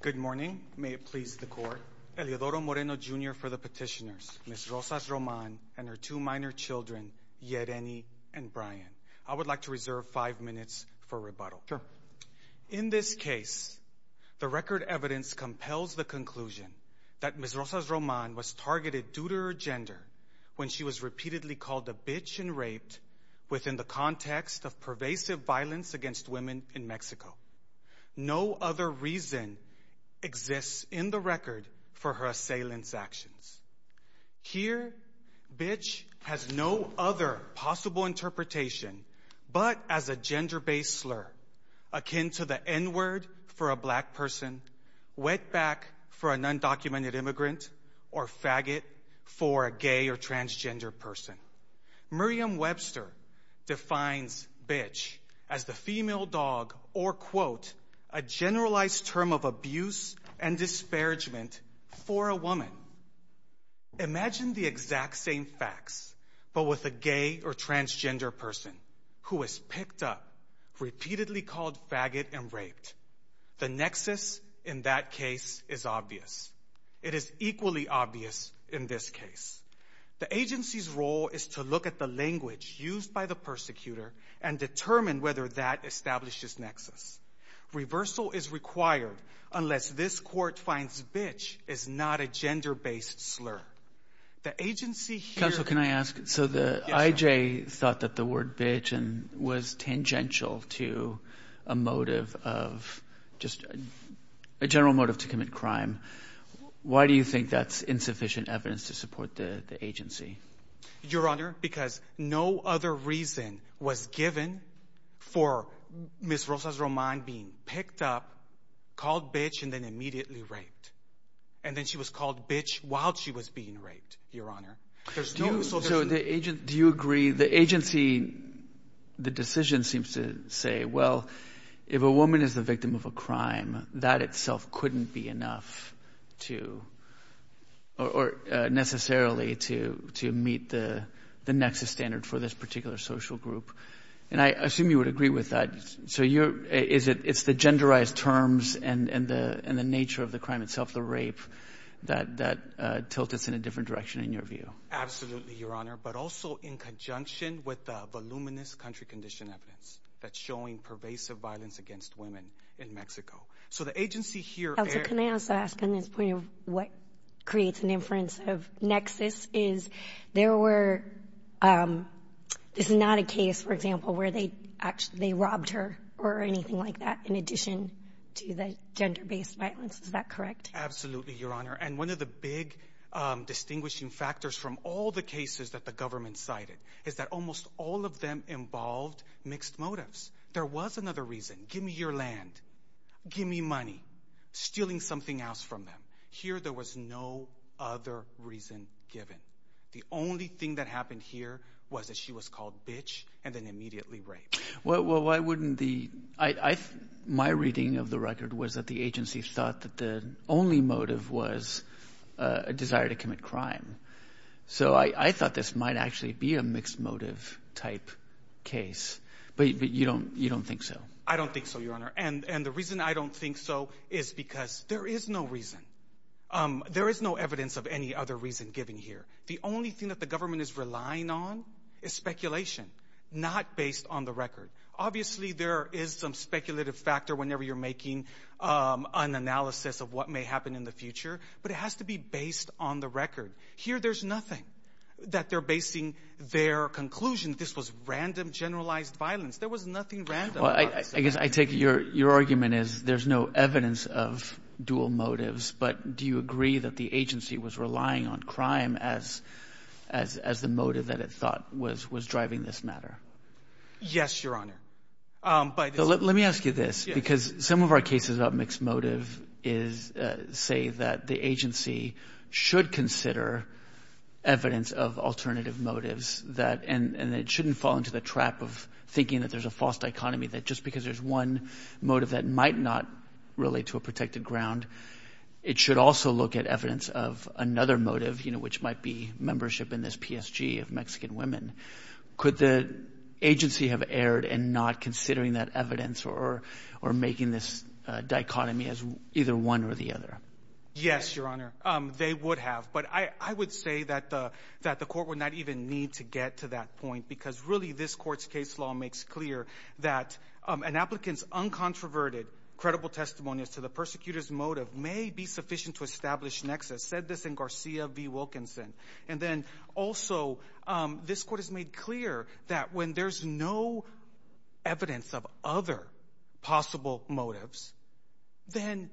Good morning. May it please the court. Eliodoro Moreno Jr. for the petitioners, Ms. Rosas Roman and her two minor children, Yereni and Brian. I would like to reserve five minutes for rebuttal. In this case, the record evidence compels the conclusion that Ms. Rosas Roman was targeted due to her gender when she was repeatedly called a bitch and raped within the context of pervasive violence against women in Mexico. No other reason exists in the record for her assailant's actions. Here, bitch has no other possible interpretation but as a gender-based slur akin to the n-word for a black person, wetback for an undocumented immigrant, or faggot for a gay or transgender person. Miriam Webster defines bitch as the female dog or quote, a generalized term of abuse and disparagement for a woman. Imagine the exact same facts but with a gay or transgender person who is picked up, repeatedly called faggot and raped. The nexus in that case is obvious. It is equally obvious in this case. The agency's role is to look at the language used by the persecutor and determine whether that establishes nexus. Reversal is required unless this court finds bitch is not a gender-based slur. The agency here... Counsel, can I ask? So the I.J. thought that the word bitch was tangential to a motive of just a general motive to commit crime. Why do you think that's insufficient evidence to support the agency? Your Honor, because no other reason was given for Ms. Rosa Román being picked up, called bitch, and then immediately raped. And then she was called bitch while she was being raped, Your Honor. So the agent... Do you agree the agency, the decision seems to say, well, if a woman is the victim of a crime, that itself couldn't be enough to, or necessarily to meet the nexus standard for this particular social group. And I assume you would agree with that. So it's the genderized terms and the nature of the crime itself, the rape, that tilt us in a different direction in your view. Absolutely, Your Honor. But also in conjunction with the voluminous country condition evidence that's showing pervasive violence against women in Mexico. So the agency here... Can I also ask on this point of what creates an inference of nexus is there were... This is not a case, for example, where they actually robbed her or anything like that in addition to the gender-based violence. Is that correct? Absolutely, Your Honor. And one of the big distinguishing factors from all the cases that the government cited is that almost all of them involved mixed motives. There was another reason. Give me your land. Give me money. Stealing something else from them. Here there was no other reason given. The only thing that happened here was that she was called bitch and then immediately raped. Well, why wouldn't the... My reading of the record was that the agency thought that the only motive was a desire to commit crime. So I thought this might actually be a mixed motive type case. But you don't think so? I don't think so, Your Honor. And the reason I don't think so is because there is no reason. There is no evidence of any other reason given here. The only thing that the government is relying on is speculation, not based on the record. Obviously, there is some speculative factor whenever you're making an analysis of what may happen in the future, but it has to be based on the record. Here there's nothing that they're basing their conclusion. This was random, generalized violence. There was nothing random. Well, I guess I take your argument is there's no evidence of dual motives, but do you agree that the agency was relying on crime as the motive that it thought was driving this matter? Yes, Your Honor. Let me ask you this, because some of our cases about mixed motive say that the agency should consider evidence of alternative motives, and it shouldn't fall into the trap of thinking that there's a false dichotomy, that just because there's one motive that might not relate to a protected ground, it should also look at evidence of another motive, which might be membership in this PSG of Mexican women. Could the agency have erred in not considering that evidence or making this dichotomy as either one or the other? Yes, Your Honor. They would have, but I would say that the that the court would not even need to get to that point, because really this court's case law makes clear that an applicant's uncontroverted, credible testimonies to the persecutor's motive may be sufficient to establish nexus. Said this in Garcia v. Wilkinson. And then also, this court has made clear that when there's no evidence of other possible motives, then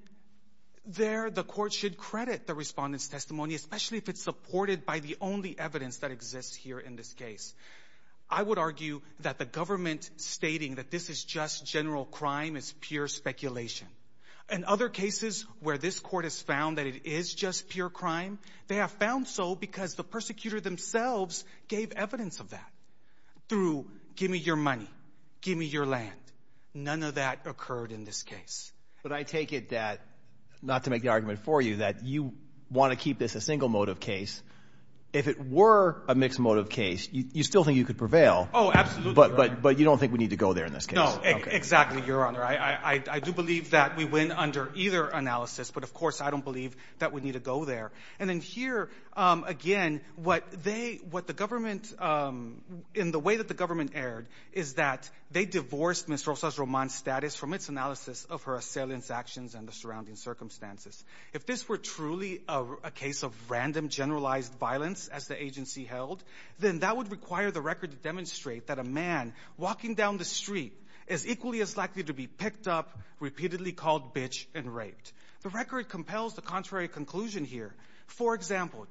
there the court should credit the respondent's testimony, especially if it's supported by the only evidence that exists here in this case. I would argue that the government stating that this is just general crime is pure speculation. In other cases where this court has found that it is just pure crime, they have found so because the persecutor themselves gave evidence of that through, give me your money, give me your land. None of that occurred in this case. But I take it that, not to make the argument for you, that you want to keep this a single motive case. If it were a mixed motive case, you still think you could prevail? Oh, absolutely. But you don't think we need to go there in this case? No, exactly, Your Honor. I do believe that we win under either analysis, but of course I don't believe that we need to go there. And then here, again, what the government, in the way that the government erred, is that they divorced Ms. Rosa's romance status from its analysis of her assailant's actions and the surrounding circumstances. If this were truly a case of random, generalized violence, as the agency held, then that would require the record to demonstrate that a man walking down the street is equally as likely to be picked up, repeatedly called bitch, and raped. The record compels the contrary conclusion here. For example,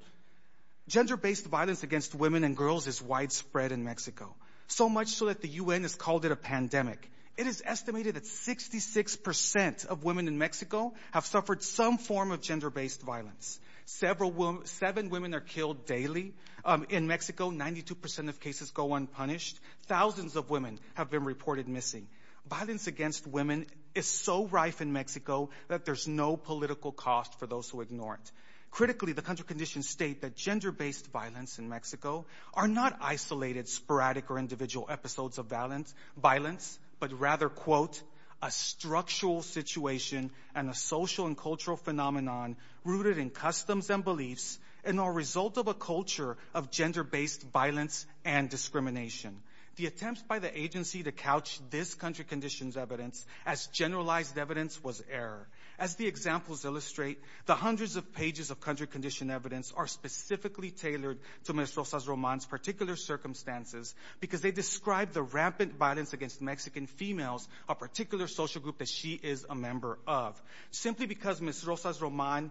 gender-based violence against women and girls is widespread in Mexico, so much so that the UN has called it a pandemic. It is estimated that 66% of women in Mexico have suffered some form of gender-based violence. Seven women are killed daily in Mexico. 92% of cases go unpunished. Thousands of women have been reported missing. Violence against women is so rife in Mexico that there's no political cost for those who ignore it. Critically, the country conditions state that gender-based violence in Mexico are not isolated, sporadic, or individual episodes of violence, but rather, quote, a structural situation and a social and cultural phenomenon rooted in customs and beliefs and are a result of a culture of gender-based violence and discrimination. The attempts by the agency to couch this country conditions evidence as generalized evidence was error. As the examples illustrate, the hundreds of pages of country condition evidence are specifically tailored to Ms. Rosa's romance particular circumstances because they describe the rampant violence against Mexican females, a particular social group that she is a member of. Simply because Ms. Rosa's romance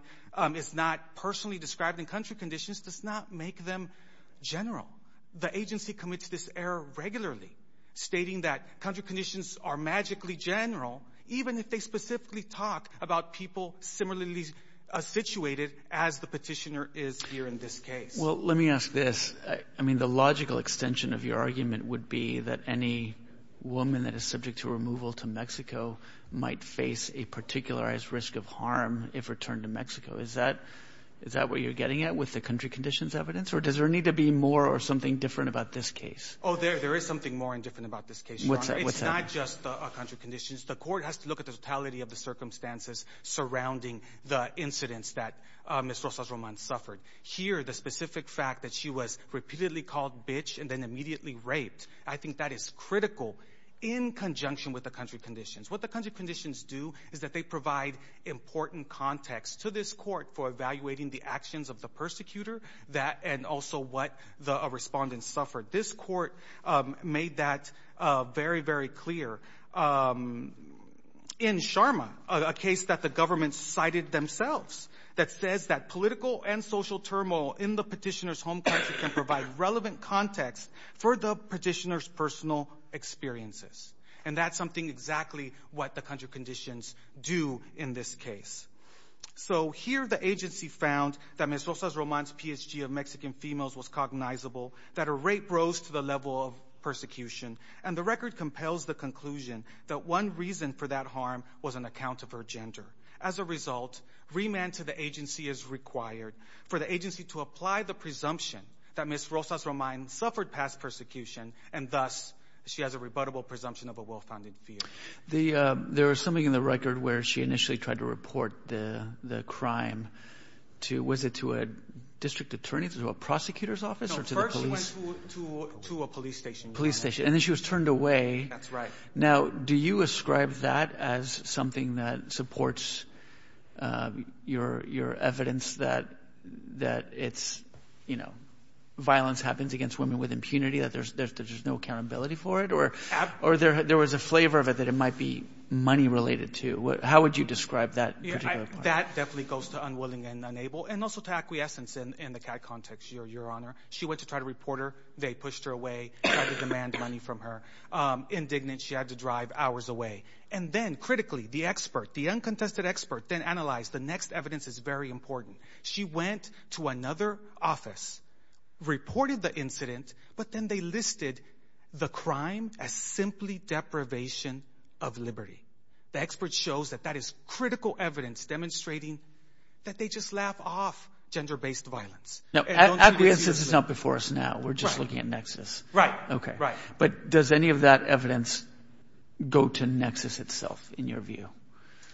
is not personally described in country conditions does not make them general. The agency commits this error regularly, stating that country conditions are magically general, even if they specifically talk about people similarly situated as the petitioner is here in this case. Well, let me ask this. I mean, the logical extension of your argument would be that any woman that is subject to removal to Mexico might face a particularized risk of harm if returned to Mexico. Is that what you're getting at with the country conditions evidence or does there need to be more or something different about this case? Oh, there is something more in different about this case. What's that? It's not just the country conditions. The court has to look at the totality of the circumstances surrounding the incidents that Ms. Rosa's romance suffered. Here, the specific fact that she was repeatedly called bitch and then immediately raped, I think that is critical in conjunction with the country conditions. What the country conditions do is that they provide important context to this court for evaluating the actions of the persecutor and also what the respondents suffered. This court made that very, very clear in Sharma, a case that the government cited themselves, that says that political and social turmoil in the petitioner's home country can provide relevant context for the petitioner's personal experiences. And that's something exactly what the country conditions do in this case. So here, the agency found that Ms. Rosa's romance PhD of Mexican females was cognizable, that her rape rose to the level of persecution, and the record compels the conclusion that one reason for that harm was an account of her gender. As a result, remand to the agency is required for the agency to apply the presumption that Ms. Rosa's romance suffered past persecution and thus she has a rebuttable presumption of a found in fear. There was something in the record where she initially tried to report the crime to, was it to a district attorney, to a prosecutor's office, or to the police? No, first she went to a police station. And then she was turned away. That's right. Now, do you ascribe that as something that supports your evidence that it's, you know, violence happens against women with impunity, that there's no accountability for it, or there was a flavor of it that it might be money related to? How would you describe that? That definitely goes to unwilling and unable, and also to acquiescence in the CAD context, Your Honor. She went to try to report her. They pushed her away, tried to demand money from her. Indignant, she had to drive hours away. And then, critically, the expert, the uncontested expert, then analyzed. The next evidence is very important. She went to another office, reported the incident, but then they listed the crime as simply deprivation of liberty. The expert shows that that is critical evidence demonstrating that they just laugh off gender-based violence. Now, acquiescence is not before us now. We're just looking at nexus. Right. Okay. Right. But does any of that evidence go to nexus itself, in your view?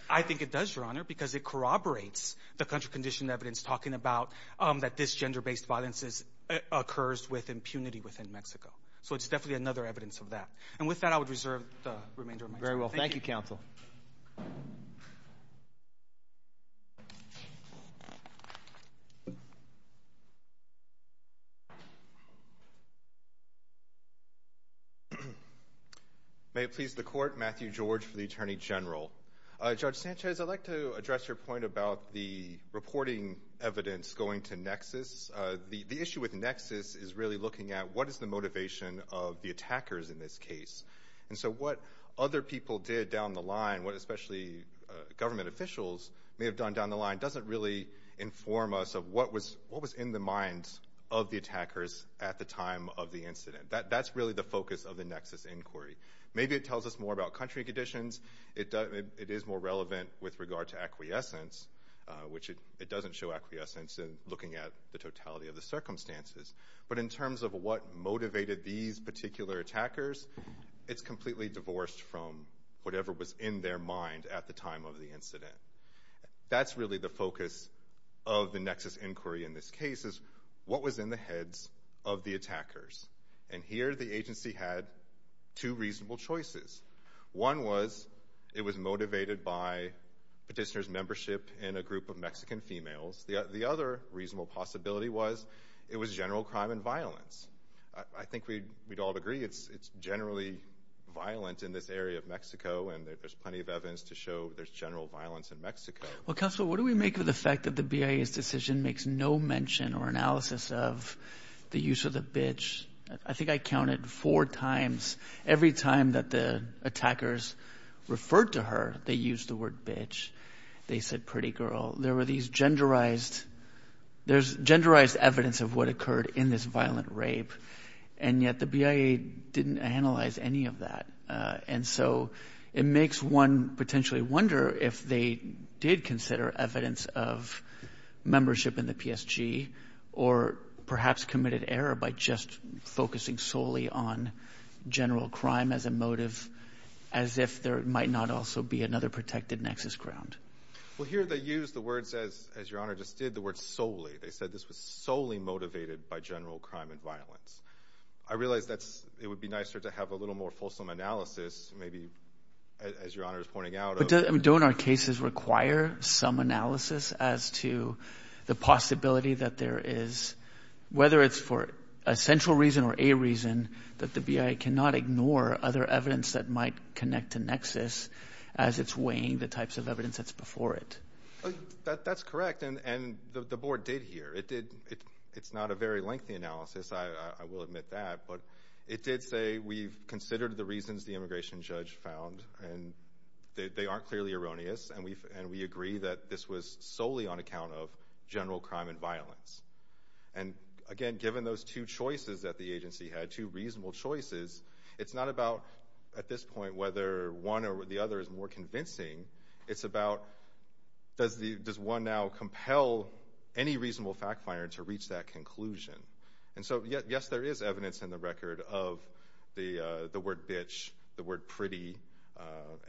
I think it does, Your Honor, because it corroborates the country-conditioned evidence talking about that this gender-based violence occurs with impunity within Mexico. So it's definitely another evidence of that. And with that, I would reserve the remainder of my time. Very well. Thank you, counsel. May it please the Court, Matthew George for the Attorney General. Judge Sanchez, I'd like to address your point about the reporting evidence going to nexus. The issue with nexus is really looking at what is the motivation of the attackers in this case. And so what other people did down the line, what especially government officials may have done down the line, doesn't really inform us of what was in the minds of the attackers at the time of the incident. That's really the focus of the nexus inquiry. Maybe it tells us more about country conditions. It is more relevant with regard to acquiescence, which it doesn't show acquiescence in looking at the totality of the circumstances. But in terms of what motivated these particular attackers, it's completely divorced from whatever was in their mind at the time of the incident. That's really the focus of the nexus inquiry in this case, is what was in the heads of the attackers. And here the agency had two reasonable choices. One was it was motivated by petitioner's membership in a group of Mexican females. The other reasonable possibility was it was general crime and violence. I think we'd all agree it's generally violent in this area of Mexico, and there's plenty of evidence to show there's general violence in Mexico. Well, counsel, what do we make of the fact that the BIA's decision makes no mention or analysis of the use of the bitch? I think I counted four times every time that the attackers referred to her, they used the word bitch. They said pretty girl. There were these genderized, there's genderized evidence of what occurred in this violent rape, and yet the BIA didn't analyze any of that. And so it makes one potentially wonder if they did consider evidence of membership in the PSG, or perhaps committed error by just focusing solely on general crime as a motive, as if there might not also be another protected nexus ground. Well, here they use the words, as your honor just did, the word solely. They said this was solely motivated by general crime and violence. I realize that it would be nicer to have a little more fulsome analysis, maybe, as your honor is pointing out. But don't our cases require some analysis as to the possibility that there is, whether it's for a central reason or a reason, that the BIA cannot ignore other evidence that might connect to nexus as it's weighing the types of evidence that's before it? That's correct, and the board did hear. It did, it's not a very lengthy analysis, I will admit that, but it did say we've considered the reasons the immigration judge found, and they aren't clearly erroneous, and we agree that this was solely on account of general crime and violence. And again, given those two choices that the agency had, two reasonable choices, it's not about, at this point, whether one or the other is more convincing. It's about, does one now compel any reasonable fact finder to reach that conclusion? And so, yes, there is evidence in the record of the word bitch, the word pretty,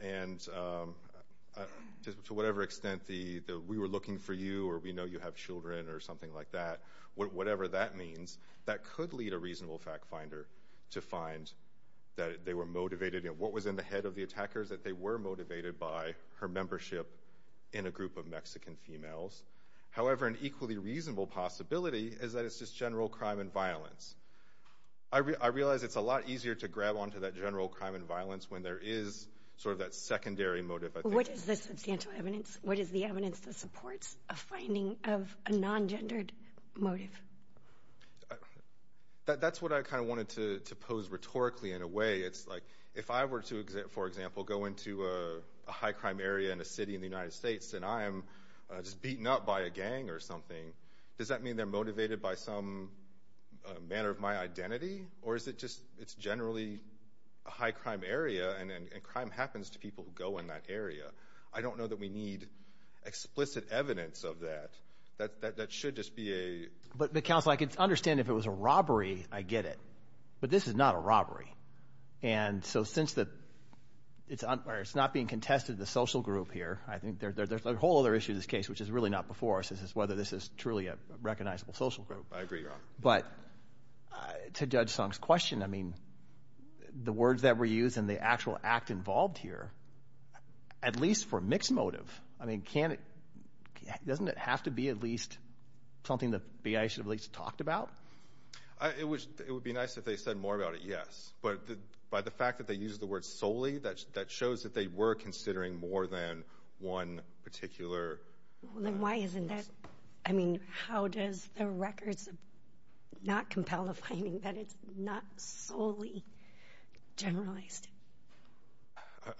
and to whatever extent we were looking for you, or we know you have children, or something like that, whatever that means, that could lead a reasonable fact finder to find that they were motivated, and what was in the head of the attackers, that they were motivated by her membership in a group of Mexican females. However, an equally reasonable possibility is that general crime and violence. I realize it's a lot easier to grab onto that general crime and violence when there is sort of that secondary motive. But what is the substantial evidence? What is the evidence that supports a finding of a non-gendered motive? That's what I kind of wanted to pose rhetorically, in a way. It's like, if I were to, for example, go into a high crime area in a city in the United States, and I'm just beaten up by a gang or something, does that mean they're motivated by some manner of my identity? Or is it just, it's generally a high crime area, and crime happens to people who go in that area? I don't know that we need explicit evidence of that. That should just be a... But counsel, I can understand if it was a robbery, I get it. But this is not a robbery. And so, since it's not being contested in the social group here, I think there's a whole other issue to this case, which is really not before us. This is whether this is truly a recognizable social group. I agree, Rob. But to Judge Song's question, I mean, the words that were used and the actual act involved here, at least for mixed motive, I mean, can it, doesn't it have to be at least something that the BIA should have at least talked about? It would be nice if they said more about it, yes. But by the fact that they used the word solely, that shows that they were considering more than one particular... Then why isn't that, I mean, how does the records not compel the finding that it's not solely generalized?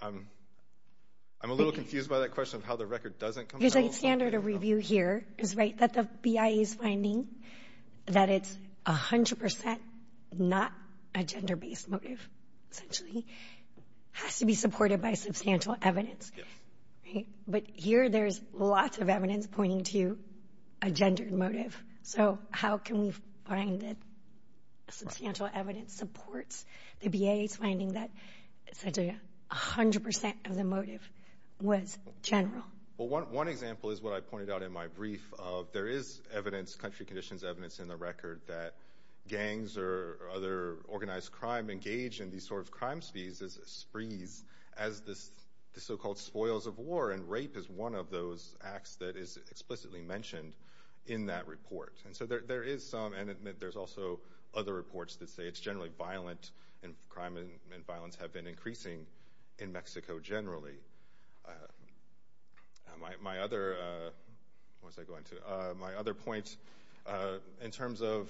I'm a little confused by that question of how the record doesn't compel... There's a standard of review here, is right, that the BIA is finding that it's 100% not a gender-based motive, essentially, has to be supported by substantial evidence. But here there's lots of evidence pointing to a gendered motive. So how can we find that substantial evidence supports the BIA's finding that essentially 100% of the motive was general? Well, one example is what I pointed out in my brief of there is evidence, country conditions evidence in the record that gangs or other organized crime engage in these sort of crime sprees as the so-called spoils of war, and rape is one of those acts that is explicitly mentioned in that report. And so there is some, and there's also other reports that say it's generally violent, and crime and violence have been increasing in Mexico generally. My other point in terms of,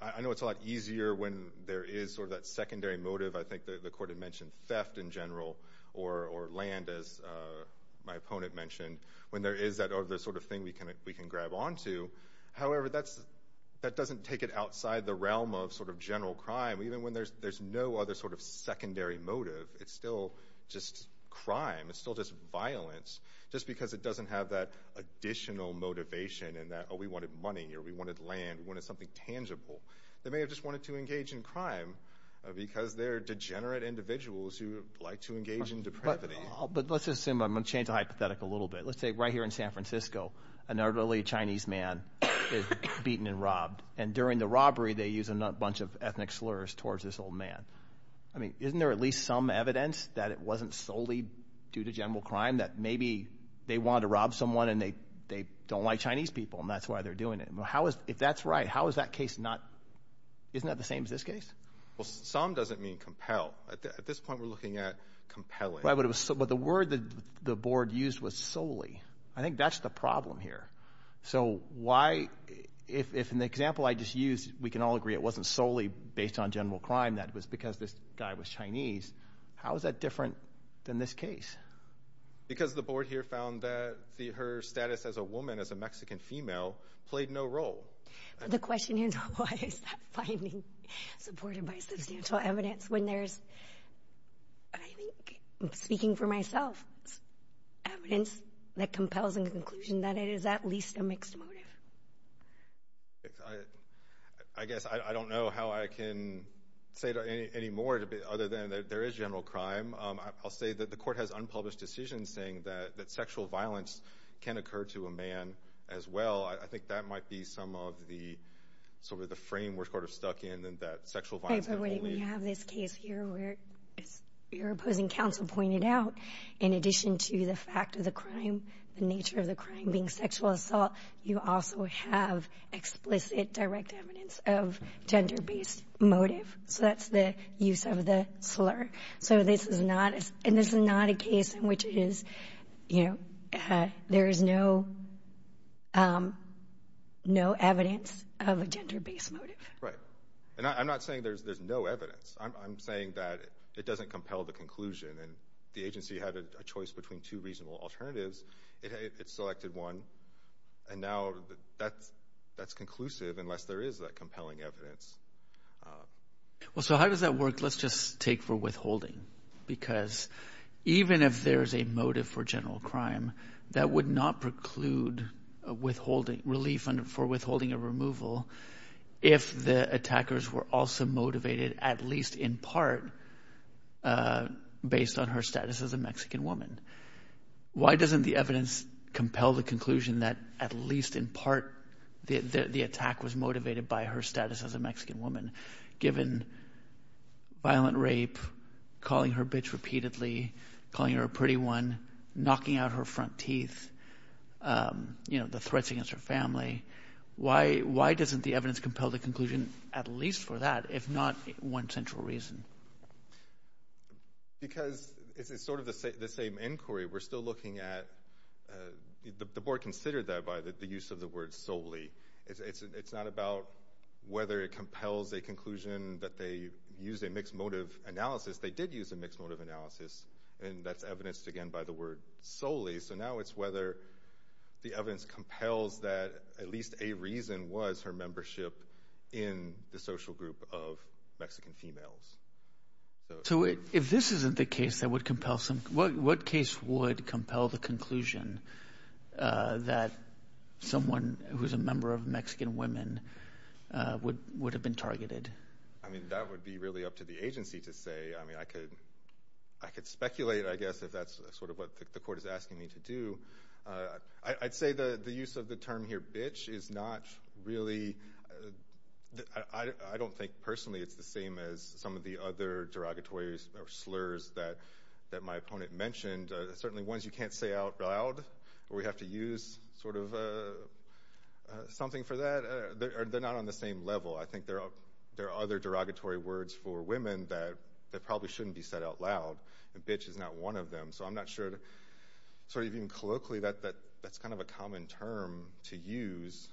I know it's a lot easier when there is sort of that secondary motive, I think the court had mentioned theft in general, or land, as my opponent mentioned, when there is that other sort of thing we can grab onto. However, that doesn't take it outside the realm of sort of general crime, even when there's no other sort of secondary motive. It's still just crime, it's still just violence, just because it doesn't have that additional motivation in that, oh we wanted money, or we wanted land, we wanted something tangible. They may have just wanted to engage in crime because they're degenerate individuals who like to engage in depravity. But let's assume, I'm going to change the hypothetical a little bit, let's say right here in San Francisco, an elderly Chinese man is beaten and robbed, and during the robbery they use a bunch of ethnic slurs towards this old man. I mean, isn't there at least some evidence that it wasn't solely due to general crime, that maybe they wanted to rob someone and they don't like Chinese people, and that's why they're doing it? If that's right, how is that case not, isn't that the same as this case? Well, some doesn't mean compel. At this point we're looking at compelling. Right, but the word the board used was solely. I think that's the problem here. So why, if in the example I just used, we can all agree it wasn't solely based on general crime, that it was because this guy was Chinese, how is that different than this case? Because the board here found that her status as a woman, as a Mexican female, played no role. The question is, why is that finding supported by substantial evidence when there's, I think, speaking for myself, evidence that compels a conclusion that it is at least a mixed motive? I guess I don't know how I can say any more other than there is general crime. I'll say that the court has unpublished decisions saying that sexual violence can occur to a man as well. I think that might be some of the, sort of, the frame we're sort of stuck in, and that sexual violence... Wait, but we have this case here where, as your opposing counsel pointed out, in addition to the crime, the nature of the crime being sexual assault, you also have explicit direct evidence of gender-based motive. So that's the use of the slur. So this is not a case in which it is, you know, there is no evidence of a gender-based motive. Right. And I'm not saying there's no evidence. I'm saying that it doesn't compel the conclusion, and the agency had a choice between two reasonable alternatives. It selected one, and now that's conclusive unless there is that compelling evidence. Well, so how does that work? Let's just take for withholding, because even if there's a motive for general crime, that would not preclude relief for withholding a removal if the attackers were also motivated, at least in part, based on her status as a Mexican woman. Why doesn't the evidence compel the conclusion that, at least in part, the attack was motivated by her status as a Mexican woman, given violent rape, calling her bitch repeatedly, calling her a pretty one, knocking out her front teeth, you know, the threats against her family? Why doesn't the evidence compel the at least for that, if not one central reason? Because it's sort of the same inquiry. We're still looking at—the board considered that by the use of the word solely. It's not about whether it compels a conclusion that they used a mixed motive analysis. They did use a mixed motive analysis, and that's evidenced, again, by the word solely. So now it's whether the evidence compels that at least a reason was her membership in the social group of Mexican females. So if this isn't the case that would compel some—what case would compel the conclusion that someone who's a member of Mexican Women would have been targeted? I mean, that would be really up to the agency to say. I mean, I could speculate, I guess, if that's sort of what the court is asking me to do. I'd say the use of the term here, bitch, is not really—I don't think, personally, it's the same as some of the other derogatories or slurs that my opponent mentioned. Certainly ones you can't say out loud, or we have to use sort of something for that, they're not on the same level. I think there are other derogatory words for women that probably shouldn't be said out loud, and bitch is not one of them. So I'm not sure, sort of even colloquially, that's kind of a common term to use.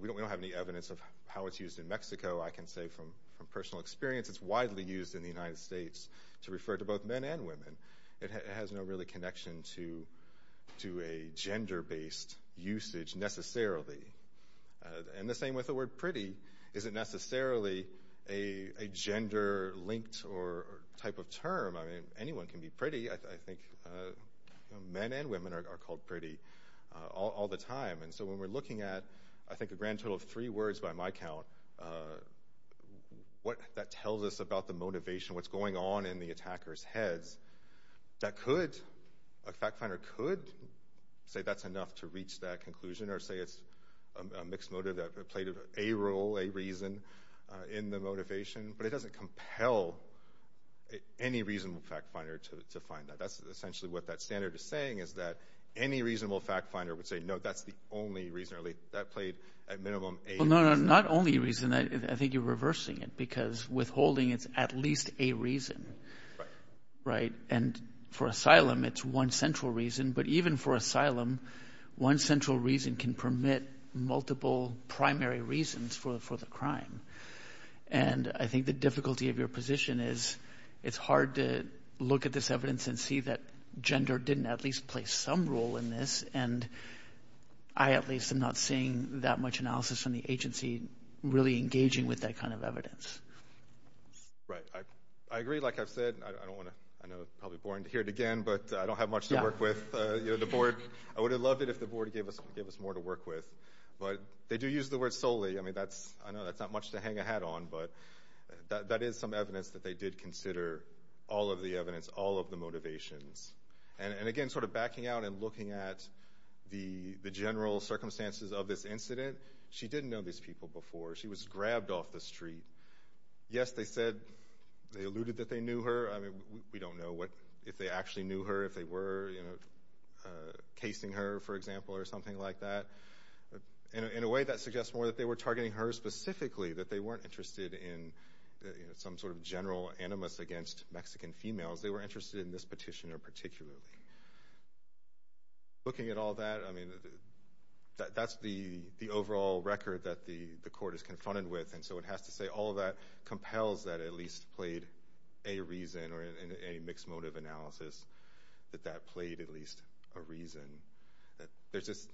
We don't have any evidence of how it's used in Mexico. I can say from personal experience, it's widely used in the United States to refer to both men and women. It has no really connection to a gender-based usage necessarily. And the same with the word isn't necessarily a gender-linked type of term. I mean, anyone can be pretty. I think men and women are called pretty all the time. And so when we're looking at, I think, a grand total of three words by my count, what that tells us about the motivation, what's going on in the attacker's heads, a fact finder could say that's enough to reach that conclusion, or say it's a mixed motive that played a role, a reason, in the motivation. But it doesn't compel any reasonable fact finder to find that. That's essentially what that standard is saying, is that any reasonable fact finder would say, no, that's the only reason, or at least that played at minimum a reason. Well, no, not only a reason. I think you're reversing it, because withholding, it's at least a reason, right? And for asylum, it's one central reason. But even for asylum, one central reason can permit multiple primary reasons for the crime. And I think the difficulty of your position is it's hard to look at this evidence and see that gender didn't at least play some role in this. And I, at least, am not seeing that much analysis from the agency really engaging with that kind of evidence. Right. I agree. Like I've said, I don't want to, I know it's probably boring to hear it again, but I don't have much to work with the board. I would have loved it if the board gave us more to work with. But they do use the word solely. I mean, that's, I know that's not much to hang a hat on, but that is some evidence that they did consider all of the evidence, all of the motivations. And again, sort of backing out and looking at the general circumstances of this incident, she didn't know these people before. She was grabbed off the street. Yes, they said, they alluded that they knew her. I mean, we don't know what, if they actually knew her, if they were, you know, casing her, for example, or something like that. In a way that suggests more that they were targeting her specifically, that they weren't interested in some sort of general animus against Mexican females. They were interested in this petitioner, particularly. Looking at all that, I mean, that's the overall record that the court is confronted with. And so it has to say all of that compels that at least played a reason, or in a mixed motive analysis, that that played at least a reason. There's just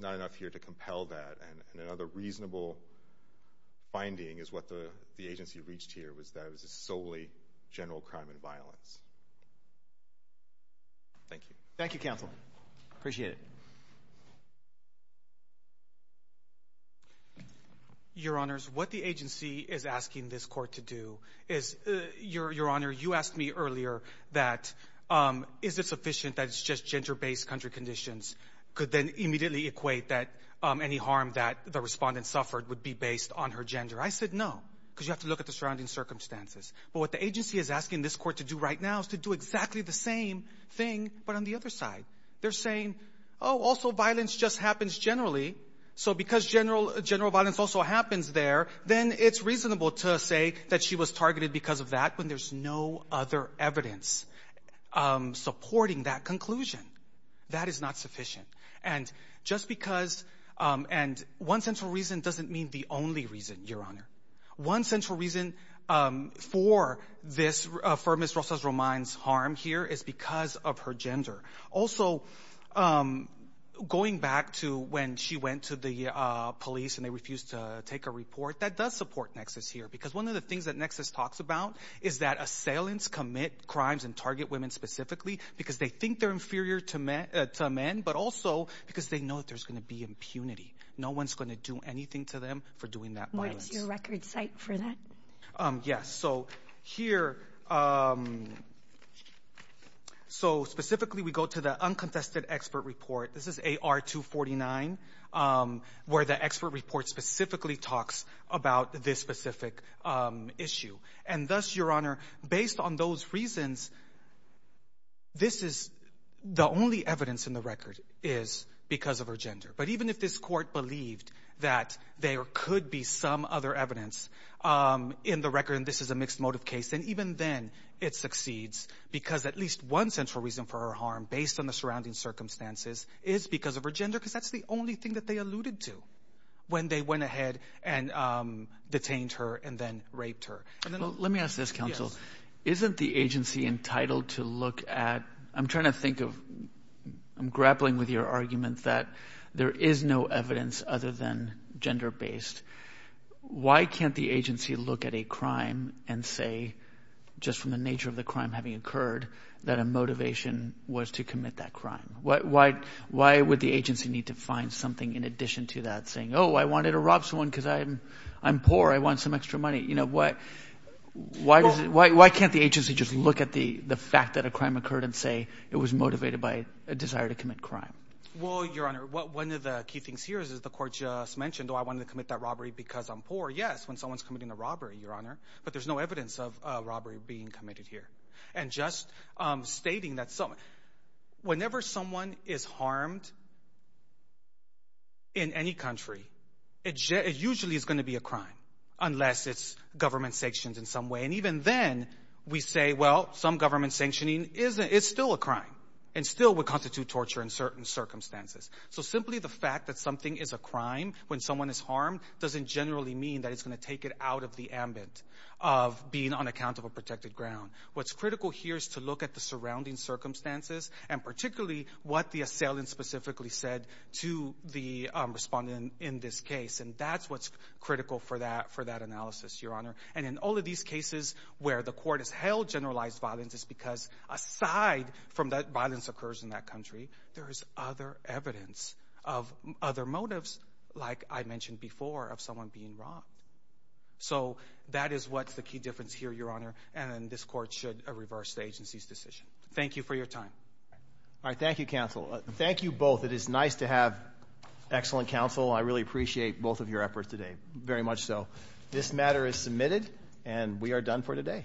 not enough here to compel that. And another reasonable finding is what the agency reached here was that it was solely general crime and violence. Thank you. Thank you, counsel. Appreciate it. Your Honors, what the agency is asking this court to do is, Your Honor, you asked me earlier that, is it sufficient that it's just gender-based country conditions could then immediately equate that any harm that the respondent suffered would be based on her gender? I said no, because you have to look at the surrounding circumstances. But what the agency is asking this court to do right now is to do exactly the same thing, but on the other side. They're saying, oh, also violence just happens generally. So because general violence also happens there, then it's reasonable to say that she was targeted because of that when there's no other evidence supporting that conclusion. That is not sufficient. And just because, and one central reason doesn't mean the only reason, Your Honor. One central reason for Ms. Rosas-Romine's harm here is because of her gender. Also, going back to when she went to the police and they refused to take a report, that does support Nexus here. Because one of the things that Nexus talks about is that assailants commit crimes and target women specifically because they think they're inferior to men, but also because they know that there's going to be impunity. No one's going to do anything to them for doing that violence. What's your record cite for that? Yes. So here, so specifically we go to the unconfessed expert report. This is AR-249, where the expert report specifically talks about this specific issue. And thus, Your Honor, based on those reasons, this is the only evidence in the record is because of her gender. But even if this court believed that there could be some other evidence in the record, and this is a mixed motive case, and even then it succeeds because at least one central reason for her harm, based on the surrounding circumstances, is because of her gender. Because that's the only thing that they alluded to when they went ahead and detained her and then raped her. Let me ask this, counsel. Isn't the agency entitled to look at, I'm trying to think of, I'm grappling with your argument that there is no evidence other than gender-based. Why can't the agency look at a crime and say, just from the nature of the crime having occurred, that a motivation was to commit that crime? Why would the agency need to find something in addition to that saying, oh, I wanted to rob someone because I'm poor. I want some extra money. Why can't the agency just look at the fact that a one of the key things here is the court just mentioned, oh, I wanted to commit that robbery because I'm poor. Yes, when someone's committing a robbery, Your Honor. But there's no evidence of a robbery being committed here. And just stating that, whenever someone is harmed in any country, it usually is going to be a crime, unless it's government sanctions in some way. And even then, we say, well, some government sanctioning is still a crime and still would fact that something is a crime when someone is harmed doesn't generally mean that it's going to take it out of the ambit of being on account of a protected ground. What's critical here is to look at the surrounding circumstances, and particularly what the assailant specifically said to the respondent in this case. And that's what's critical for that analysis, Your Honor. And in all of these cases where the court has held generalized violence is because, aside from that violence occurs in that country, there is other evidence of other motives, like I mentioned before, of someone being wrong. So that is what's the key difference here, Your Honor. And this court should reverse the agency's decision. Thank you for your time. All right. Thank you, counsel. Thank you both. It is nice to have excellent counsel. I really appreciate both of your efforts today. Very much so. This matter is submitted, and we are done for today. Thank you.